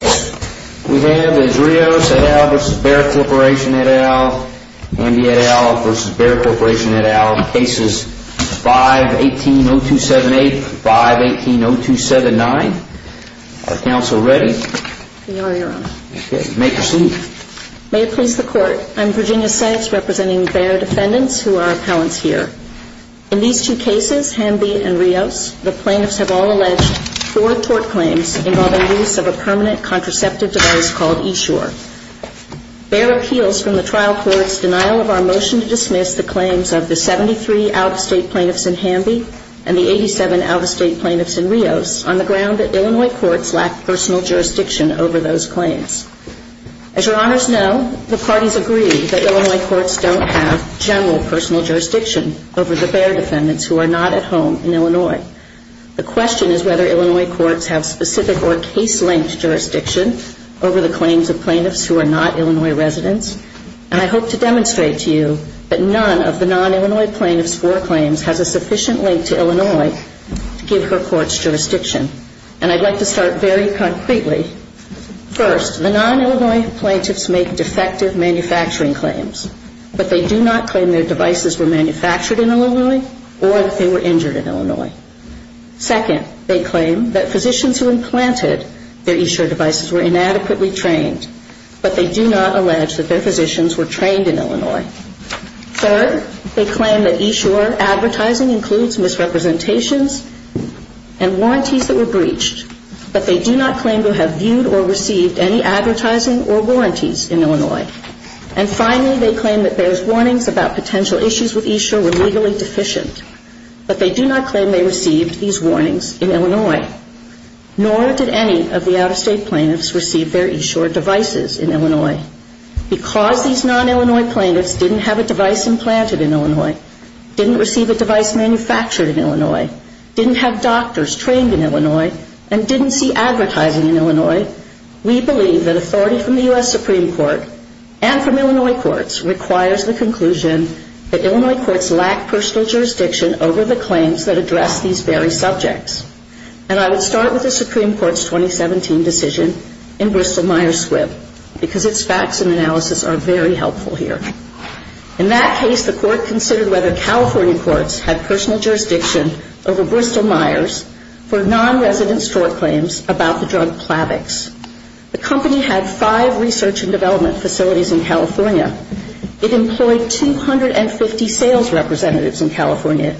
We have as Rios et al. v. Bayer Corporation et al., Hamby et al. v. Bayer Corporation et al. cases 518-0278, 518-0279. Are counsel ready? We are, Your Honor. Okay, you may proceed. May it please the Court, I'm Virginia Sacks representing Bayer defendants who are appellants here. In these two cases, Hamby and Rios, the plaintiffs have all alleged four tort claims involving the use of a permanent contraceptive device called Eshore. Bayer appeals from the trial court's denial of our motion to dismiss the claims of the 73 out-of-state plaintiffs in Hamby and the 87 out-of-state plaintiffs in Rios on the ground that Illinois courts lack personal jurisdiction over those claims. As Your Honors know, the parties agree that Illinois courts don't have general personal jurisdiction over the Bayer defendants who are not at home in Illinois. The question is whether Illinois courts have specific or case-linked jurisdiction over the claims of plaintiffs who are not Illinois residents. And I hope to demonstrate to you that none of the non-Illinois plaintiffs' four claims has a sufficient link to Illinois to give her courts jurisdiction. And I'd like to start very concretely. First, the non-Illinois plaintiffs make defective manufacturing claims, but they do not claim that their devices were manufactured in Illinois or that they were injured in Illinois. Second, they claim that physicians who implanted their Eshore devices were inadequately trained, but they do not allege that their physicians were trained in Illinois. Third, they claim that Eshore advertising includes misrepresentations and warranties that were breached, but they do not claim to have viewed or received any advertising or warranties in Illinois. And finally, they claim that Bayer's warnings about potential issues with Eshore were legally deficient, but they do not claim they received these warnings in Illinois. Nor did any of the out-of-state plaintiffs receive their Eshore devices in Illinois. Because these non-Illinois plaintiffs didn't have a device implanted in Illinois, didn't receive a device manufactured in Illinois, didn't have doctors trained in Illinois, and didn't see advertising in Illinois, we believe that authority from the U.S. Supreme Court and from Illinois courts requires the conclusion that Illinois courts lack personal jurisdiction over the claims that address these very subjects. And I would start with the Supreme Court's 2017 decision in Bristol-Myers-Swipp because its facts and analysis are very helpful here. In that case, the court considered whether California courts had personal jurisdiction over Bristol-Myers for non-resident store claims about the drug Plavix. The company had five research and development facilities in California. It employed 250 sales representatives in California.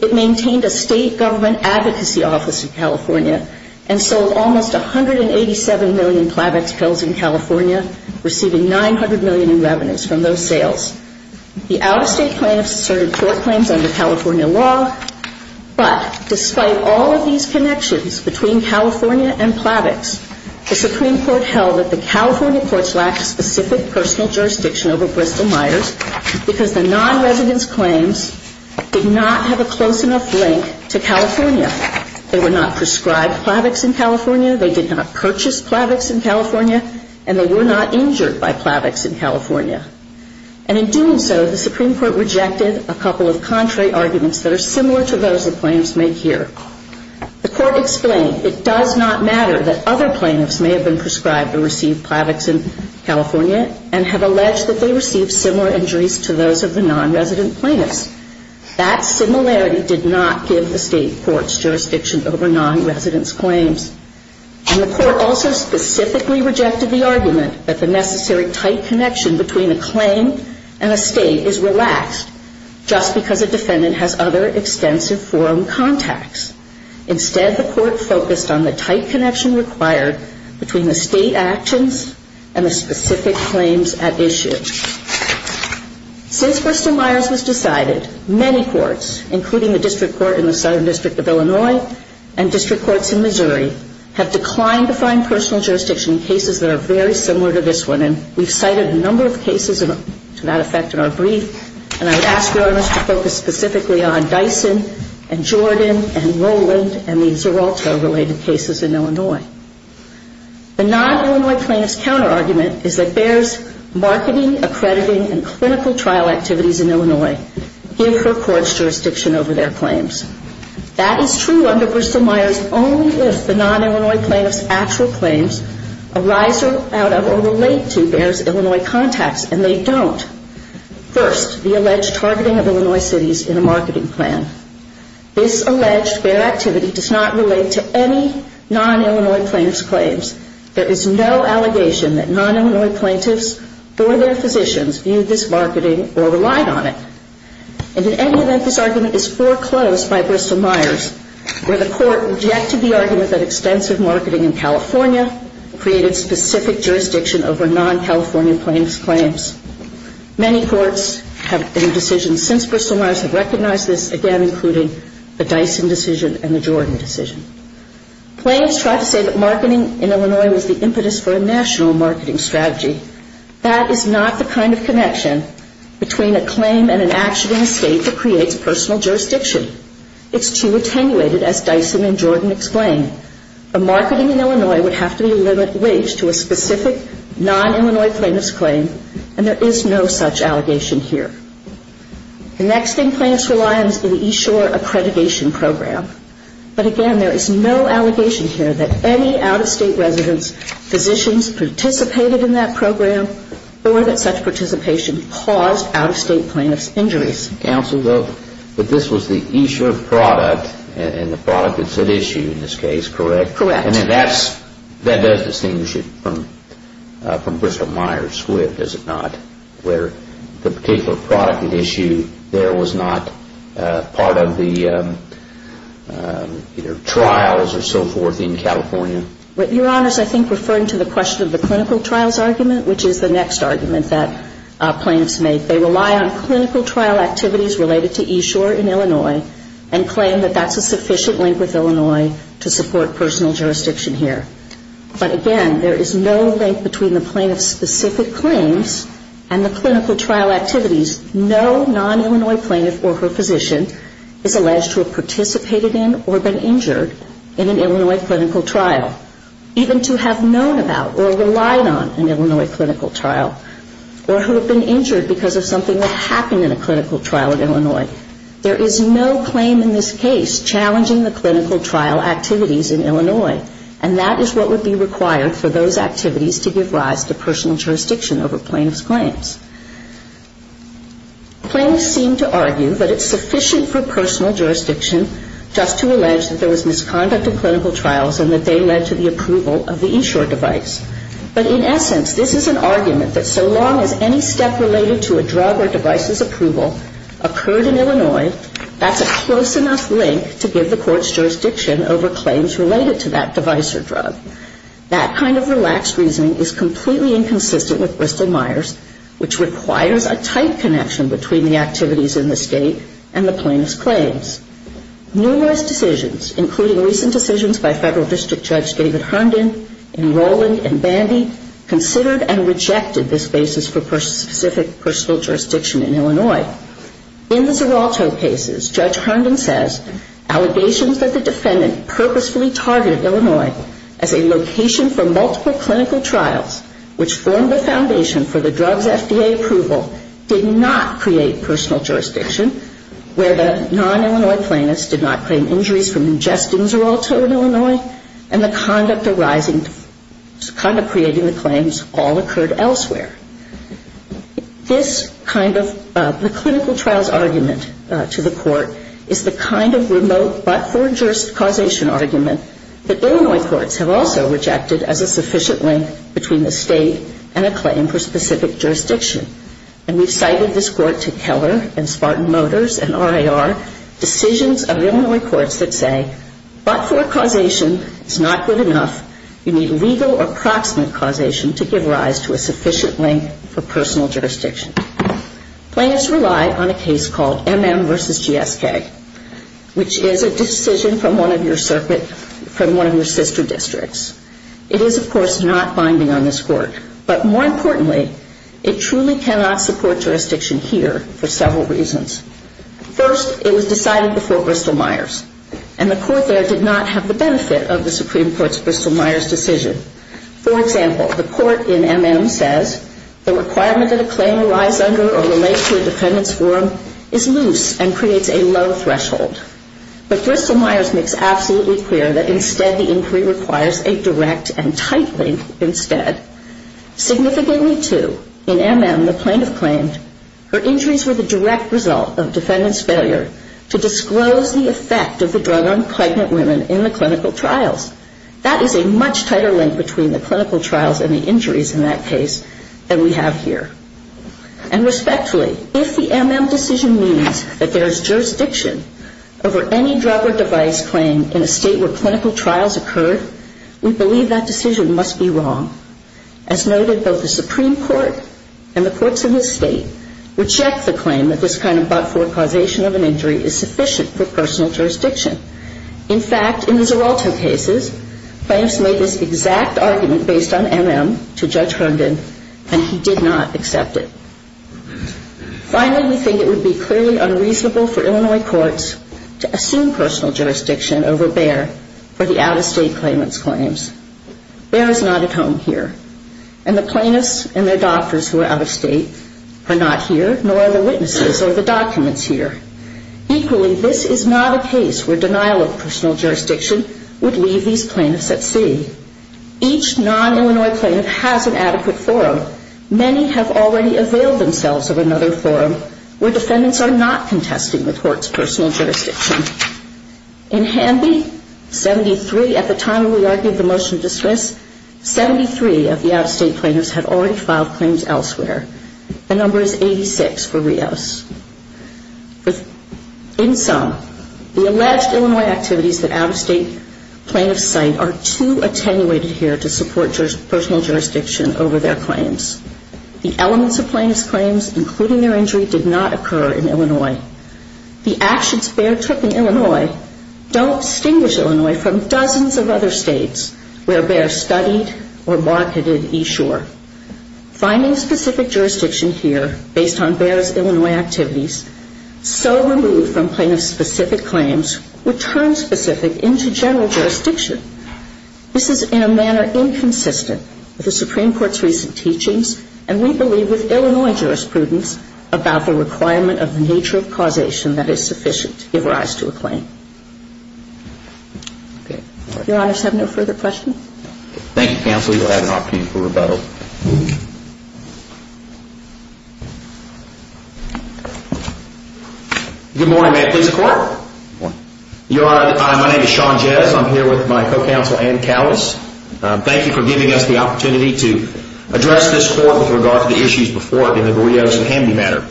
It maintained a state government advocacy office in California and sold almost 187 million Plavix pills in California, receiving $900 million in revenues from those sales. The out-of-state plaintiffs asserted court claims under California law, but despite all of these connections between California and Plavix, the Supreme Court held that the California courts lacked specific personal jurisdiction over Bristol-Myers because the non-resident's claims did not have a close enough link to California. They were not prescribed Plavix in California, they did not purchase Plavix in California, and they were not injured by Plavix in California. And in doing so, the Supreme Court rejected a couple of contrary arguments that are similar to those the plaintiffs make here. The court explained it does not matter that other plaintiffs may have been prescribed or received Plavix in California and have alleged that they received similar injuries to those of the non-resident plaintiffs. That similarity did not give the state courts jurisdiction over non-resident's claims. And the court also specifically rejected the argument that the necessary tight connection between a claim and a state is relaxed just because a defendant has other extensive forum contacts. Instead, the court focused on the tight connection required between the state actions and the specific claims at issue. Since Bristol-Myers was decided, many courts, including the District Court in the Southern District of Illinois and District Courts in Missouri, have declined to find personal jurisdiction in cases that are very similar to this one. And we've cited a number of cases to that effect in our brief, and I would ask Your Honors to focus specifically on Dyson and Jordan and Rowland and the Zeralta-related cases in Illinois. The non-Illinois plaintiff's counterargument is that Bayer's marketing, accrediting, and clinical trial activities in Illinois give her courts jurisdiction over their claims. That is true under Bristol-Myers only if the non-Illinois plaintiff's actual claims arise out of or relate to Bayer's Illinois contacts, and they don't. First, the alleged targeting of Illinois cities in a marketing plan. This alleged Bayer activity does not relate to any non-Illinois plaintiff's claims. There is no allegation that non-Illinois plaintiffs or their physicians viewed this marketing or relied on it. And in any event, this argument is foreclosed by Bristol-Myers, where the court rejected the argument that extensive marketing in California created specific jurisdiction over non-California plaintiff's claims. Many courts have made decisions since Bristol-Myers have recognized this, again, including the Dyson decision and the Jordan decision. Claims try to say that marketing in Illinois was the impetus for a national marketing strategy. That is not the kind of connection between a claim and an action in a state that creates personal jurisdiction. It's too attenuated, as Dyson and Jordan explain. A marketing in Illinois would have to be a limited wage to a specific non-Illinois plaintiff's claim, and there is no such allegation here. The next thing plaintiffs rely on is the East Shore Accreditation Program. But again, there is no allegation here that any out-of-state residents, physicians, participated in that program or that such participation caused out-of-state plaintiff's injuries. But this was the East Shore product, and the product that's at issue in this case, correct? Correct. And that does distinguish it from Bristol-Myers, Swift, does it not, where the particular product at issue there was not part of the trials or so forth in California? Your Honor is, I think, referring to the question of the clinical trials argument, which is the next argument that plaintiffs make. They rely on clinical trial activities related to East Shore in Illinois and claim that that's a sufficient link with Illinois to support personal jurisdiction here. But again, there is no link between the plaintiff's specific claims and the clinical trial activities. No non-Illinois plaintiff or her physician is alleged to have participated in or been injured in an Illinois clinical trial. Even to have known about or relied on an Illinois clinical trial or who have been injured because of something that happened in a clinical trial in Illinois, there is no claim in this case challenging the clinical trial activities in Illinois. And that is what would be required for those activities to give rise to personal jurisdiction over plaintiff's claims. Plaintiffs seem to argue that it's sufficient for personal jurisdiction just to allege that there was misconduct in clinical trials and that they led to the approval of the East Shore device. But in essence, this is an argument that so long as any step related to a drug or device's approval occurred in Illinois, that's a close enough link to give the court's jurisdiction over claims related to that device or drug. That kind of relaxed reasoning is completely inconsistent with Bristol-Myers, which requires a tight connection between the activities in this State and the plaintiff's claims. Numerous decisions, including recent decisions by Federal District Judge David Herndon, in Rowland and Bandy, considered and rejected this basis for specific personal jurisdiction in Illinois. In the Xeralto cases, Judge Herndon says allegations that the defendant purposefully targeted Illinois as a location for multiple clinical trials, which formed the foundation for the drug's FDA approval, did not create personal jurisdiction, where the non-Illinois plaintiffs did not claim injuries from ingesting Xeralto in Illinois, and the conduct arising, the conduct creating the claims all occurred elsewhere. This kind of, the clinical trials argument to the court is the kind of remote but-for-judicial causation argument that Illinois courts have also rejected as a sufficient link between the State and a claim for specific jurisdiction. And we've cited this court to Keller and Spartan Motors and RIR, decisions of Illinois courts that say, but-for causation is not good enough, you need legal or proximate causation to give rise to a sufficient link for personal jurisdiction. Plaintiffs rely on a case called MM v. GSK, which is a decision from one of your circuit, from one of your sister districts. It is, of course, not binding on this court, but more importantly, it truly cannot support jurisdiction here for several reasons. First, it was decided before Bristol-Myers, and the court there did not have the benefit of the Supreme Court's Bristol-Myers decision. For example, the court in MM says, the requirement that a claim lies under or relates to a defendant's forum is loose and creates a low threshold. But Bristol-Myers makes absolutely clear that instead the inquiry requires a direct and tight link instead. Significantly, too, in MM, the plaintiff claimed her injuries were the direct result of defendant's failure to disclose the effect of the drug on pregnant women in the clinical trials. That is a much tighter link between the clinical trials and the injuries in that case than we have here. And respectfully, if the MM decision means that there is jurisdiction over any drug or device claim in a State where clinical trials occurred, we believe that decision must be wrong. As noted, both the Supreme Court and the courts in this State reject the claim that this kind of but-for causation of an injury is sufficient for personal jurisdiction. In fact, in the Zeralto cases, plaintiffs made this exact argument based on MM to Judge Herndon, and he did not accept it. Finally, we think it would be clearly unreasonable for Illinois courts to assume personal jurisdiction over Bayer for the out-of-state claimant's claims. Bayer is not at home here, and the plaintiffs and their doctors who are out-of-state are not here, nor are the witnesses or the documents here. Equally, this is not a case where denial of personal jurisdiction would leave these plaintiffs at sea. Each non-Illinois plaintiff has an adequate forum. Many have already availed themselves of another forum where defendants are not contesting the court's personal jurisdiction. In Hanby, at the time we argued the motion to dismiss, 73 of the out-of-state plaintiffs had already filed claims elsewhere. The number is 86 for Rios. In sum, the alleged Illinois activities that out-of-state plaintiffs cite are too attenuated here to support personal jurisdiction over their claims. The elements of plaintiff's claims, including their injury, did not occur in Illinois. Don't distinguish Illinois from dozens of other states where Bayer studied or marketed eShore. Finding specific jurisdiction here based on Bayer's Illinois activities, so removed from plaintiff's specific claims, would turn specific into general jurisdiction. This is in a manner inconsistent with the Supreme Court's recent teachings, and we believe with Illinois jurisprudence, about the requirement of the nature of causation that is sufficient to give rise to a claim. Your Honor, do I have no further questions? Thank you, counsel. You will have an opportunity for rebuttal. Good morning. May I please the court? Your Honor, my name is Sean Jez. I'm here with my co-counsel Ann Cowles. Thank you for giving us the opportunity to address this court with regard to the issues before it in the Rios and Hamby matter.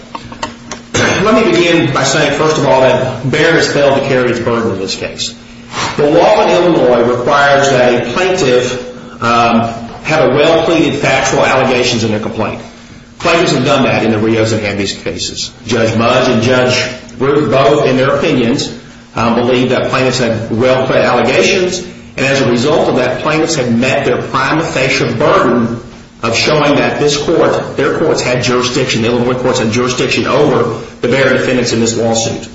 Let me begin by saying, first of all, that Bayer has failed to carry its burden in this case. The law in Illinois requires that a plaintiff have a well-pleaded factual allegations in their complaint. Plaintiffs have done that in the Rios and Hamby cases. Judge Mudge and Judge Brewer both, in their opinions, believe that plaintiffs had well-plaid allegations, and as a result of that, plaintiffs have met their prima facie burden of showing that this court, their courts had jurisdiction, the Illinois courts had jurisdiction over the Bayer defendants in this lawsuit.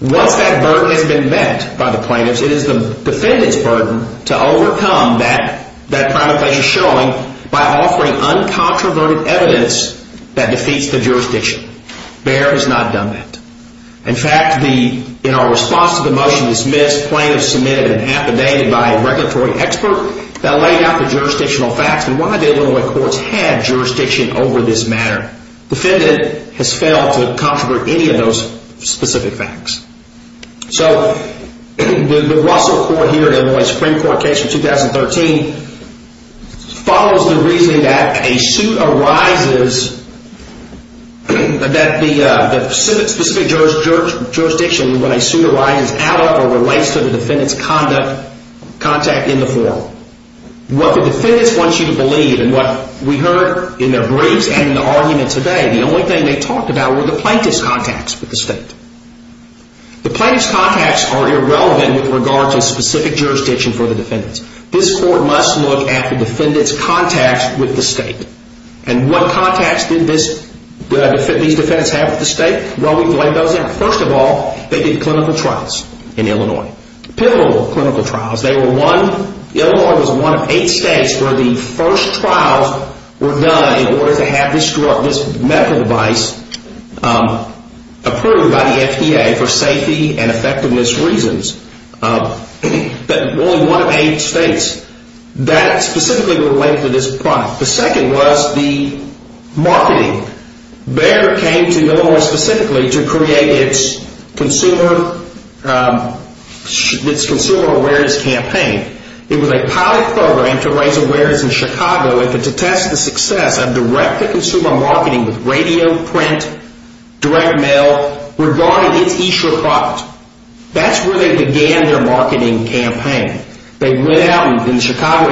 Once that burden has been met by the plaintiffs, it is the defendant's burden to overcome that prima facie showing by offering uncontroverted evidence that defeats the jurisdiction. Bayer has not done that. In fact, in our response to the motion dismissed, plaintiffs submitted an affidavit by a regulatory expert that laid out the jurisdictional facts and why the Illinois courts had jurisdiction over this matter. The defendant has failed to controvert any of those specific facts. So, the Russell Court here in the Illinois Supreme Court case of 2013 follows the reasoning that a suit arises that the plaintiffs have a well-pleaded factual allegations. That the specific jurisdiction in what I assume arises out of or relates to the defendant's contact in the forum. What the defendants want you to believe, and what we heard in their briefs and in the argument today, the only thing they talked about were the plaintiff's contacts with the state. The plaintiff's contacts are irrelevant with regard to specific jurisdiction for the defendants. This court must look at the defendant's contacts with the state. And what contacts did these defendants have with the state? Well, we've laid those out. First of all, they did clinical trials in Illinois. Pivotal clinical trials. Illinois was one of eight states where the first trials were done in order to have this medical device approved by the FDA for safety and effectiveness reasons. Only one of eight states. That specifically related to this product. The second was the marketing. Bayer came to Illinois specifically to create its consumer awareness campaign. It was a pilot program to raise awareness in Chicago and to test the success of direct-to-consumer marketing with radio, print, direct mail, regarding its e-sure product. That's where they began their marketing campaign. They went out in the Chicago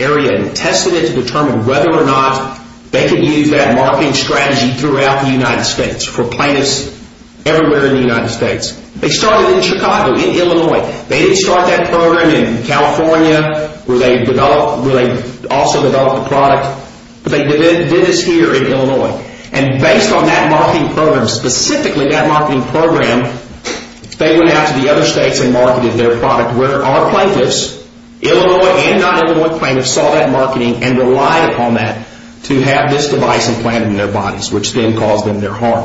area and tested it to determine whether or not they could use that marketing strategy throughout the United States for plaintiffs everywhere in the United States. They started in Chicago, in Illinois. They didn't start that program in California, where they also developed the product. But they did this here in Illinois. And based on that marketing program, specifically that marketing program, they went out to the other states and marketed their product where our plaintiffs, Illinois and non-Illinois plaintiffs, saw that marketing and relied upon that to have this device implanted in their bodies, which then caused them their harm.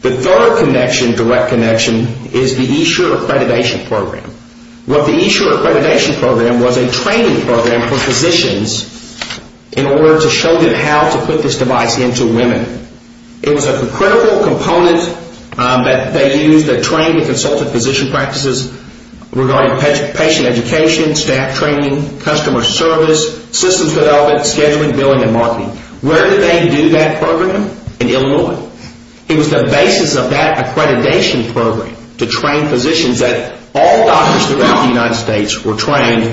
The third connection, direct connection, is the e-sure accreditation program. What the e-sure accreditation program was a training program for physicians in order to show them how to put this device into women. It was a critical component that they used to train the consultant physician practices regarding patient education, staff training, customer service, systems development, scheduling, billing, and marketing. Where did they do that program? In Illinois. It was the basis of that accreditation program to train physicians that all doctors throughout the United States were trained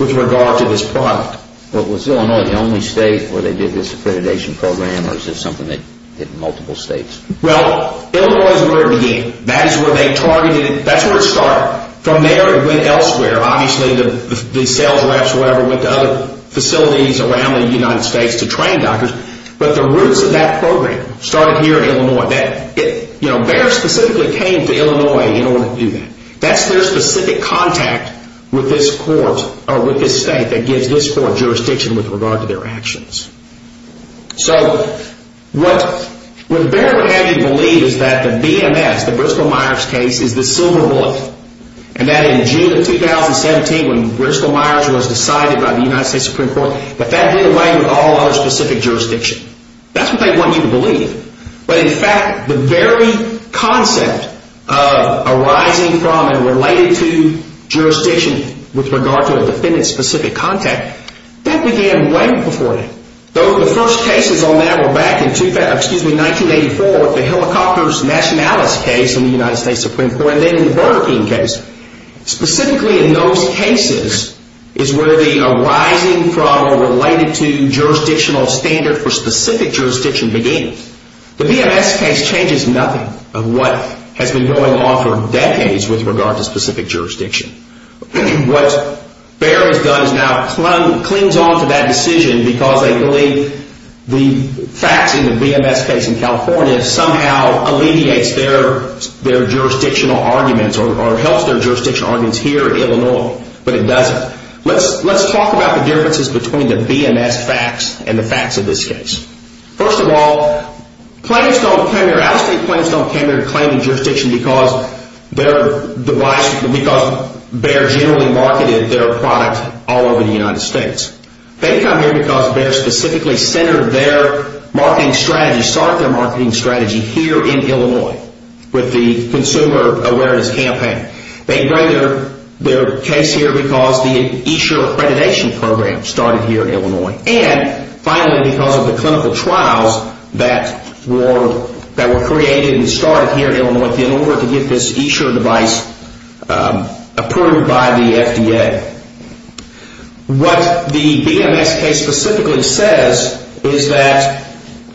with regard to this product. Was Illinois the only state where they did this accreditation program? Or was it something they did in multiple states? Illinois is where it began. That's where it started. From there it went elsewhere. Obviously the sales reps went to other facilities around the United States to train doctors. But the roots of that program started here in Illinois. Bayer specifically came to Illinois in order to do that. That's their specific contact with this court or with this state that gives this court jurisdiction with regard to their actions. So what Bayer would have you believe is that the BMS, the Bristol-Myers case, is the silver bullet. And that in June of 2017 when Bristol-Myers was decided by the United States Supreme Court, that that did away with all other specific jurisdiction. That's what they want you to believe. But in fact the very concept of arising from and related to jurisdiction with regard to a defendant's specific contact, that began way before that. The first cases on that were back in 1984 with the Helicopters Nationalis case in the United States Supreme Court and then in the Burger King case. Specifically in those cases is where the arising from or related to jurisdictional standard for specific jurisdiction began. The BMS case changes nothing of what has been going on for decades with regard to specific jurisdiction. What Bayer has done is now clings on to that decision because they believe the facts in the BMS case in California somehow alleviates their jurisdictional arguments or helps their jurisdictional arguments here in Illinois. But it doesn't. Let's talk about the differences between the BMS facts and the facts of this case. First of all, out of state claims don't come here claiming jurisdiction because Bayer generally marketed their product all over the United States. They come here because Bayer specifically centered their marketing strategy, started their marketing strategy here in Illinois with the consumer awareness campaign. They bring their case here because the eSure accreditation program started here in Illinois. And finally because of the clinical trials that were created and started here in Illinois in order to get this eSure device approved by the FDA. What the BMS case specifically says is that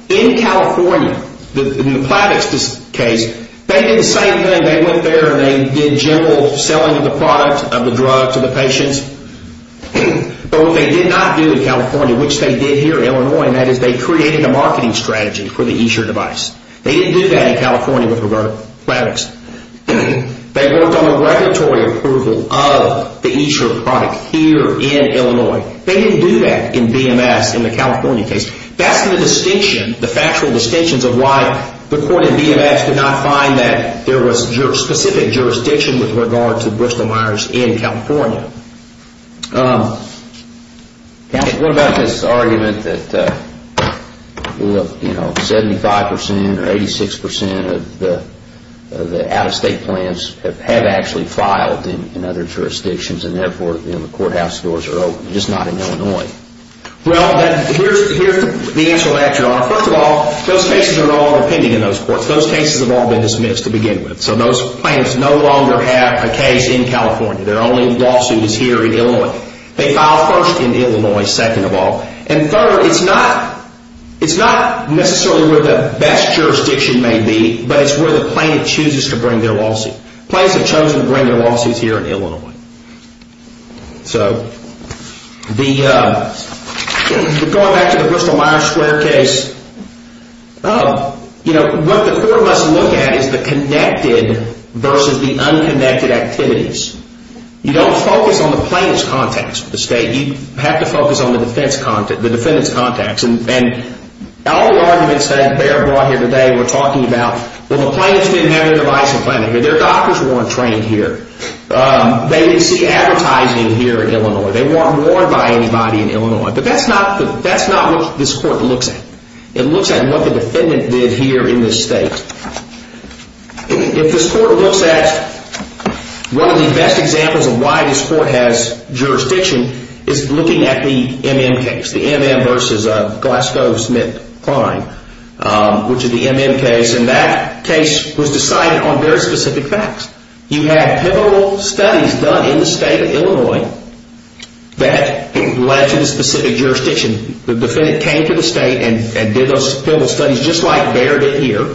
in California, in the Plavix case, they did the same thing. They went there and they did general selling of the product of the drug to the patients. But what they did not do in California, which they did here in Illinois, and that is they created a marketing strategy for the eSure device. They didn't do that in California with regard to Plavix. They worked on a regulatory approval of the eSure product here in Illinois. They didn't do that in BMS in the California case. That's the distinction, the factual distinctions of why the court in BMS did not find that there was specific jurisdiction with regard to Bristol Myers in California. What about this argument that 75% or 86% of the out-of-state plans have actually filed in other jurisdictions and therefore the courthouse doors are open, just not in Illinois? Well, here's the answer to that, Your Honor. First of all, those cases are all pending in those courts. Those cases have all been dismissed to begin with. So those plans no longer have a case in California. Their only lawsuit is here in Illinois. They filed first in Illinois, second of all. And third, it's not necessarily where the best jurisdiction may be, but it's where the plaintiff chooses to bring their lawsuit. Plaintiffs have chosen to bring their lawsuits here in Illinois. Going back to the Bristol Myers Square case, what the court must look at is the connected versus the unconnected activities. You don't focus on the plaintiff's contacts with the state. And all the arguments that Behr brought here today were talking about, well, the plaintiffs didn't have their devices planted here. Their doctors weren't trained here. They didn't see advertising here in Illinois. They weren't warned by anybody in Illinois. But that's not what this court looks at. It looks at what the defendant did here in this state. If this court looks at one of the best examples of why this court has jurisdiction is looking at the M.M. case, the M.M. versus Glasgow-Smith-Klein, which is the M.M. case. And that case was decided on very specific facts. You had pivotal studies done in the state of Illinois that led to the specific jurisdiction. The defendant came to the state and did those pivotal studies just like Behr did here.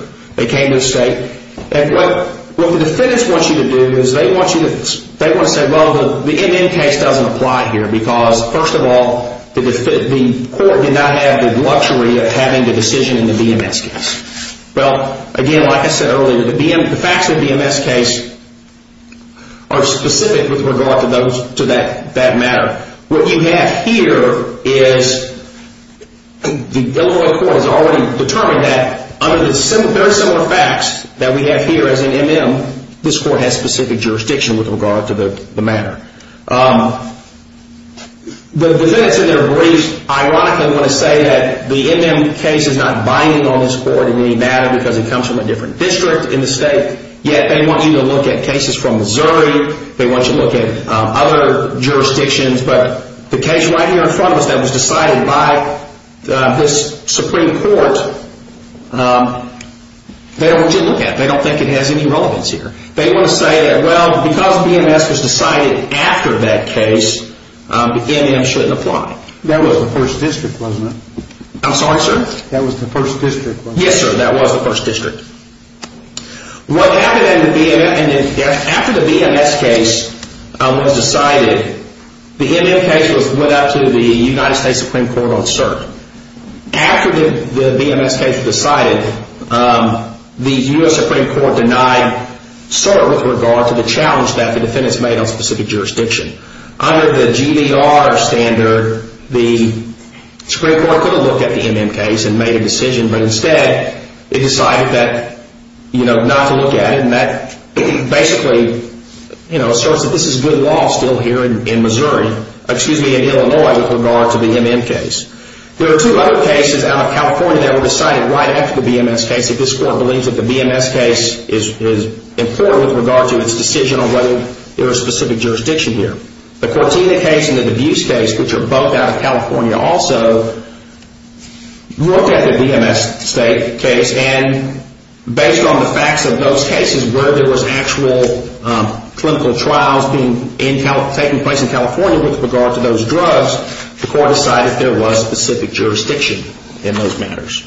What the defendants want you to do is they want you to say, well, the M.M. case doesn't apply here because, first of all, the court did not have the luxury of having the decision in the B.M.S. case. Well, again, like I said earlier, the facts of the B.M.S. case are specific with regard to that matter. What you have here is the Illinois court has already determined that under the very similar facts that we have here as an M.M., this court has specific jurisdiction with regard to the matter. The defendants in their briefs ironically want to say that the M.M. case is not binding on this court in any matter because it comes from a different district in the state. Yet they want you to look at cases from Missouri. They want you to look at other jurisdictions. But the case right here in front of us that was decided by this Supreme Court, they don't want you to look at it. They don't think it has any relevance here. They want to say that, well, because the B.M.S. was decided after that case, the M.M. shouldn't apply. I'm sorry, sir? Yes, sir. That was the first district. After the B.M.S. case was decided, the M.M. case went out to the United States Supreme Court on cert. After the B.M.S. case was decided, the U.S. Supreme Court denied cert with regard to the challenge that the defendants made on specific jurisdiction. Under the G.B.R. standard, the Supreme Court could have looked at the M.M. case and made a decision, but instead they decided not to look at it. And that basically asserts that this is good law still here in Missouri, excuse me, in Illinois with regard to the M.M. case. There are two other cases out of California that were decided right after the B.M.S. case that this Court believes that the B.M.S. case is important with regard to its decision on whether there is specific jurisdiction here. The Cortina case and the Debus case, which are both out of California, also looked at the B.M.S. case and based on the facts of those cases where there was actual clinical trials taking place in California with regard to those drugs, the Court decided there was specific jurisdiction in those matters.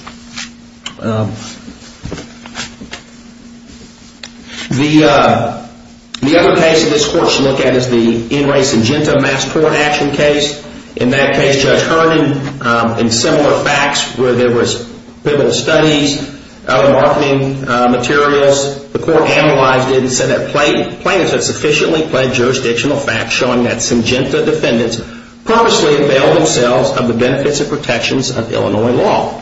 The other case that this Court should look at is the In Re Singenta Mass Tort Action case. In that case, Judge Herndon, in similar facts where there was pivotal studies, other marketing materials, the Court analyzed it and said that plaintiffs had sufficiently pledged jurisdictional facts showing that Singenta defendants purposely availed themselves of the benefits and protections of Illinois law.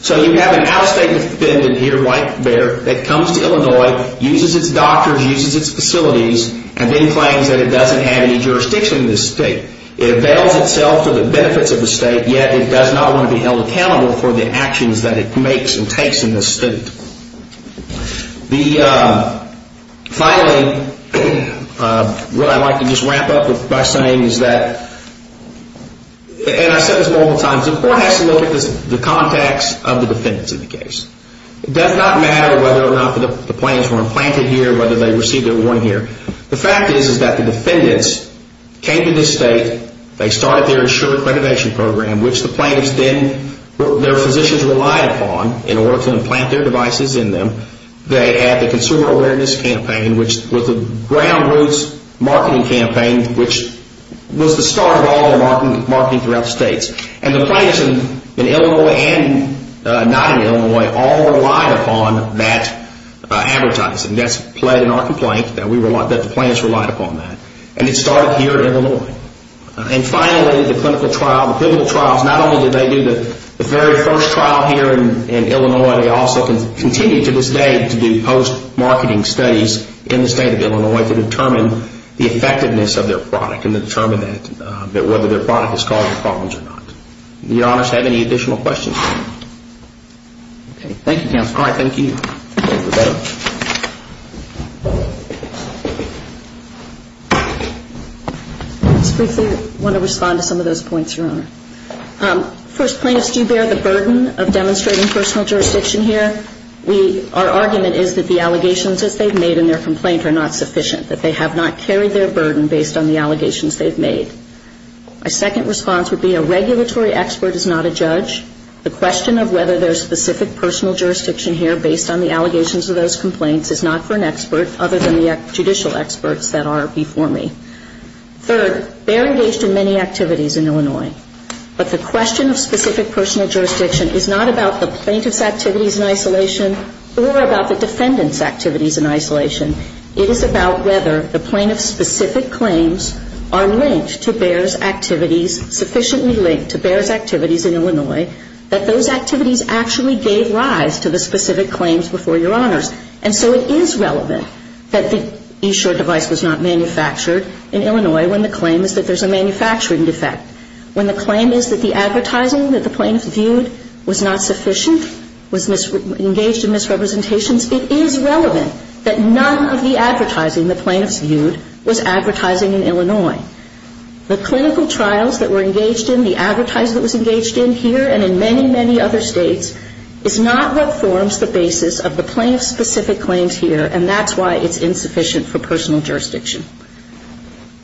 So you have an out-of-state defendant here, white bear, that comes to Illinois, uses its doctors, uses its facilities, and then claims that it doesn't have any jurisdiction in this state. It avails itself to the benefits of the state, yet it does not want to be held accountable for the actions that it makes and takes in this state. Finally, what I'd like to just wrap up by saying is that, and I've said this multiple times, the Court has to look at the contacts of the defendants in the case. It does not matter whether or not the plaintiffs were implanted here, whether they received their award here. The fact is that the defendants came to this state, they started their insurance renovation program, which the plaintiffs then and their physicians relied upon in order to implant their devices in them. They had the consumer awareness campaign, which was the ground roots marketing campaign, which was the start of all the marketing throughout the states. And the plaintiffs in Illinois and not in Illinois all relied upon that advertising. That's played in our complaint, that the plaintiffs relied upon that. And it started here in Illinois. And finally, the clinical trial, the pivotal trials, not only did they do the very first trial here in Illinois, they also continued to this day to do post-marketing studies in the state of Illinois to determine the effectiveness of their product and to determine that whether their product is causing problems or not. Do your Honors have any additional questions? Thank you, Counselor. All right. Thank you. I just briefly want to respond to some of those points, Your Honor. First, plaintiffs do bear the burden of demonstrating personal jurisdiction here. Our argument is that the allegations as they've made in their complaint are not sufficient, that they have not carried their burden based on the allegations they've made. My second response would be a regulatory expert is not a judge. The question of whether there's specific personal jurisdiction here based on the allegations of those complaints is not for an expert other than the judicial experts that are before me. Third, BEAR engaged in many activities in Illinois. But the question of specific personal jurisdiction is not about the plaintiff's activities in isolation or about the defendant's activities in isolation. It is about whether the plaintiff's specific claims are linked to BEAR's activities, sufficiently linked to BEAR's activities in Illinois, and whether the plaintiff's specific claims are linked to the plaintiff's specific claims in Illinois. And so it is relevant that the eShore device was not manufactured in Illinois when the claim is that there's a manufacturing defect. When the claim is that the advertising that the plaintiffs viewed was not sufficient, was engaged in misrepresentations, it is relevant that none of the advertising the plaintiffs viewed was advertising in Illinois. The clinical trials that were engaged in, the advertising that was engaged in here and in many, many other states is not what forms the basis of the plaintiff's specific claims here, and that's why it's insufficient for personal jurisdiction.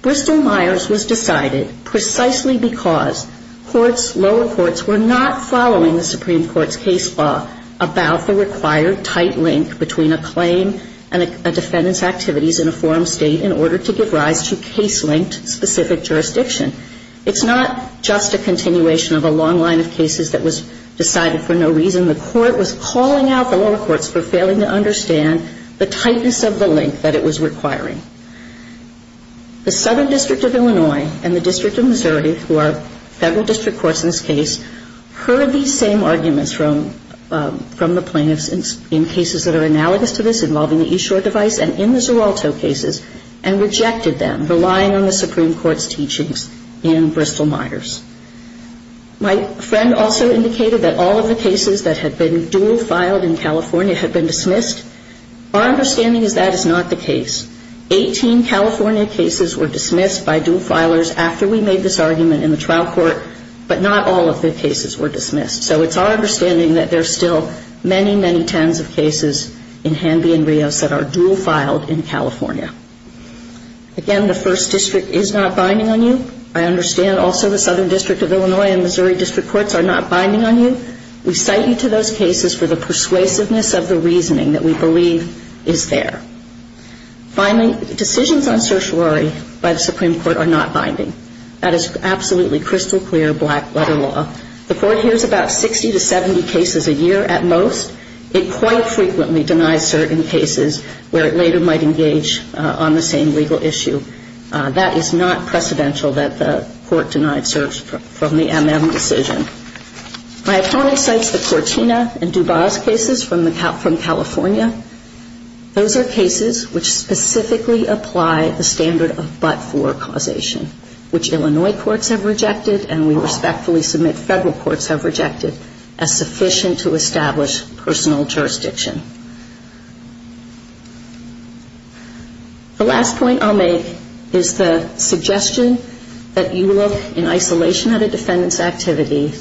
Bristol-Myers was decided precisely because courts, lower courts, were not following the Supreme Court's case law about the required tight link between a claim and a defendant's activities in a forum state in order to give rise to case-linked specific jurisdiction. It's not just a continuation of a long line of cases that was decided for no reason. The court was calling out the lower courts for failing to understand the tightness of the link that it was requiring. The Southern District of Illinois and the District of Missouri, who are federal district courts in this case, heard these same arguments from the plaintiffs in cases that are analogous to this involving the eShore device and in the Zeralto cases and rejected them, relying on the Supreme Court's teachings in Bristol-Myers. My friend also indicated that all of the cases that had been dual filed in California had been dismissed. Our understanding is that is not the case. Eighteen California cases were dismissed by dual filers after we made this argument in the trial court, but not all of the cases were dismissed. So it's our understanding that there are still many, many tens of cases in Hanby and Rios that are dual filed in California. Again, the First District is not binding on you. I understand also the Southern District of Illinois and Missouri District Courts are not binding on you. We cite you to those cases for the persuasiveness of the reasoning that we believe is there. Finally, decisions on certiorari by the Supreme Court are not binding. That is absolutely crystal clear black letter law. The court hears about 60 to 70 cases a year at most. It quite frequently denies certain cases where it later might engage on the same legal issue. That is not precedential that the court denied certs from the MM decision. My opponent cites the Cortina and DuBois cases from California. Those are cases which specifically apply the standard of but-for causation, which Illinois courts have rejected and we respectfully submit Federal courts have rejected as sufficient to establish personal jurisdiction. The last point I'll make is the suggestion that you look in isolation at a defendant's activity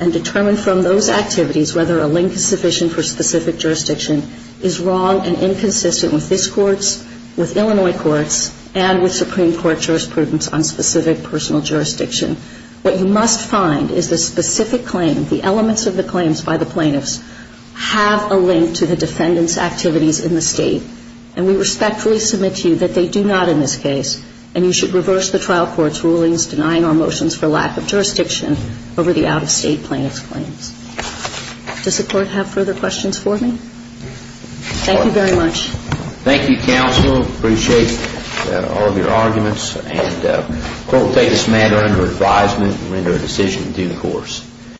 and determine from those activities whether a link is sufficient for specific jurisdiction is wrong and inconsistent with this court's, with Illinois courts, and with Supreme Court jurisprudence on specific personal jurisdiction. What you must find is the specific claim, the elements of the claims by the plaintiffs have a link to the defendant's activities in the State, and we respectfully submit to you that they do not in this case, and you should reverse the trial court's rulings denying our motions for lack of jurisdiction over the out-of-State plaintiff's claims. Does the Court have further questions for me? Thank you very much. Thank you, Counsel. Appreciate all of your arguments, and we'll take this matter under advisement and render a decision due course.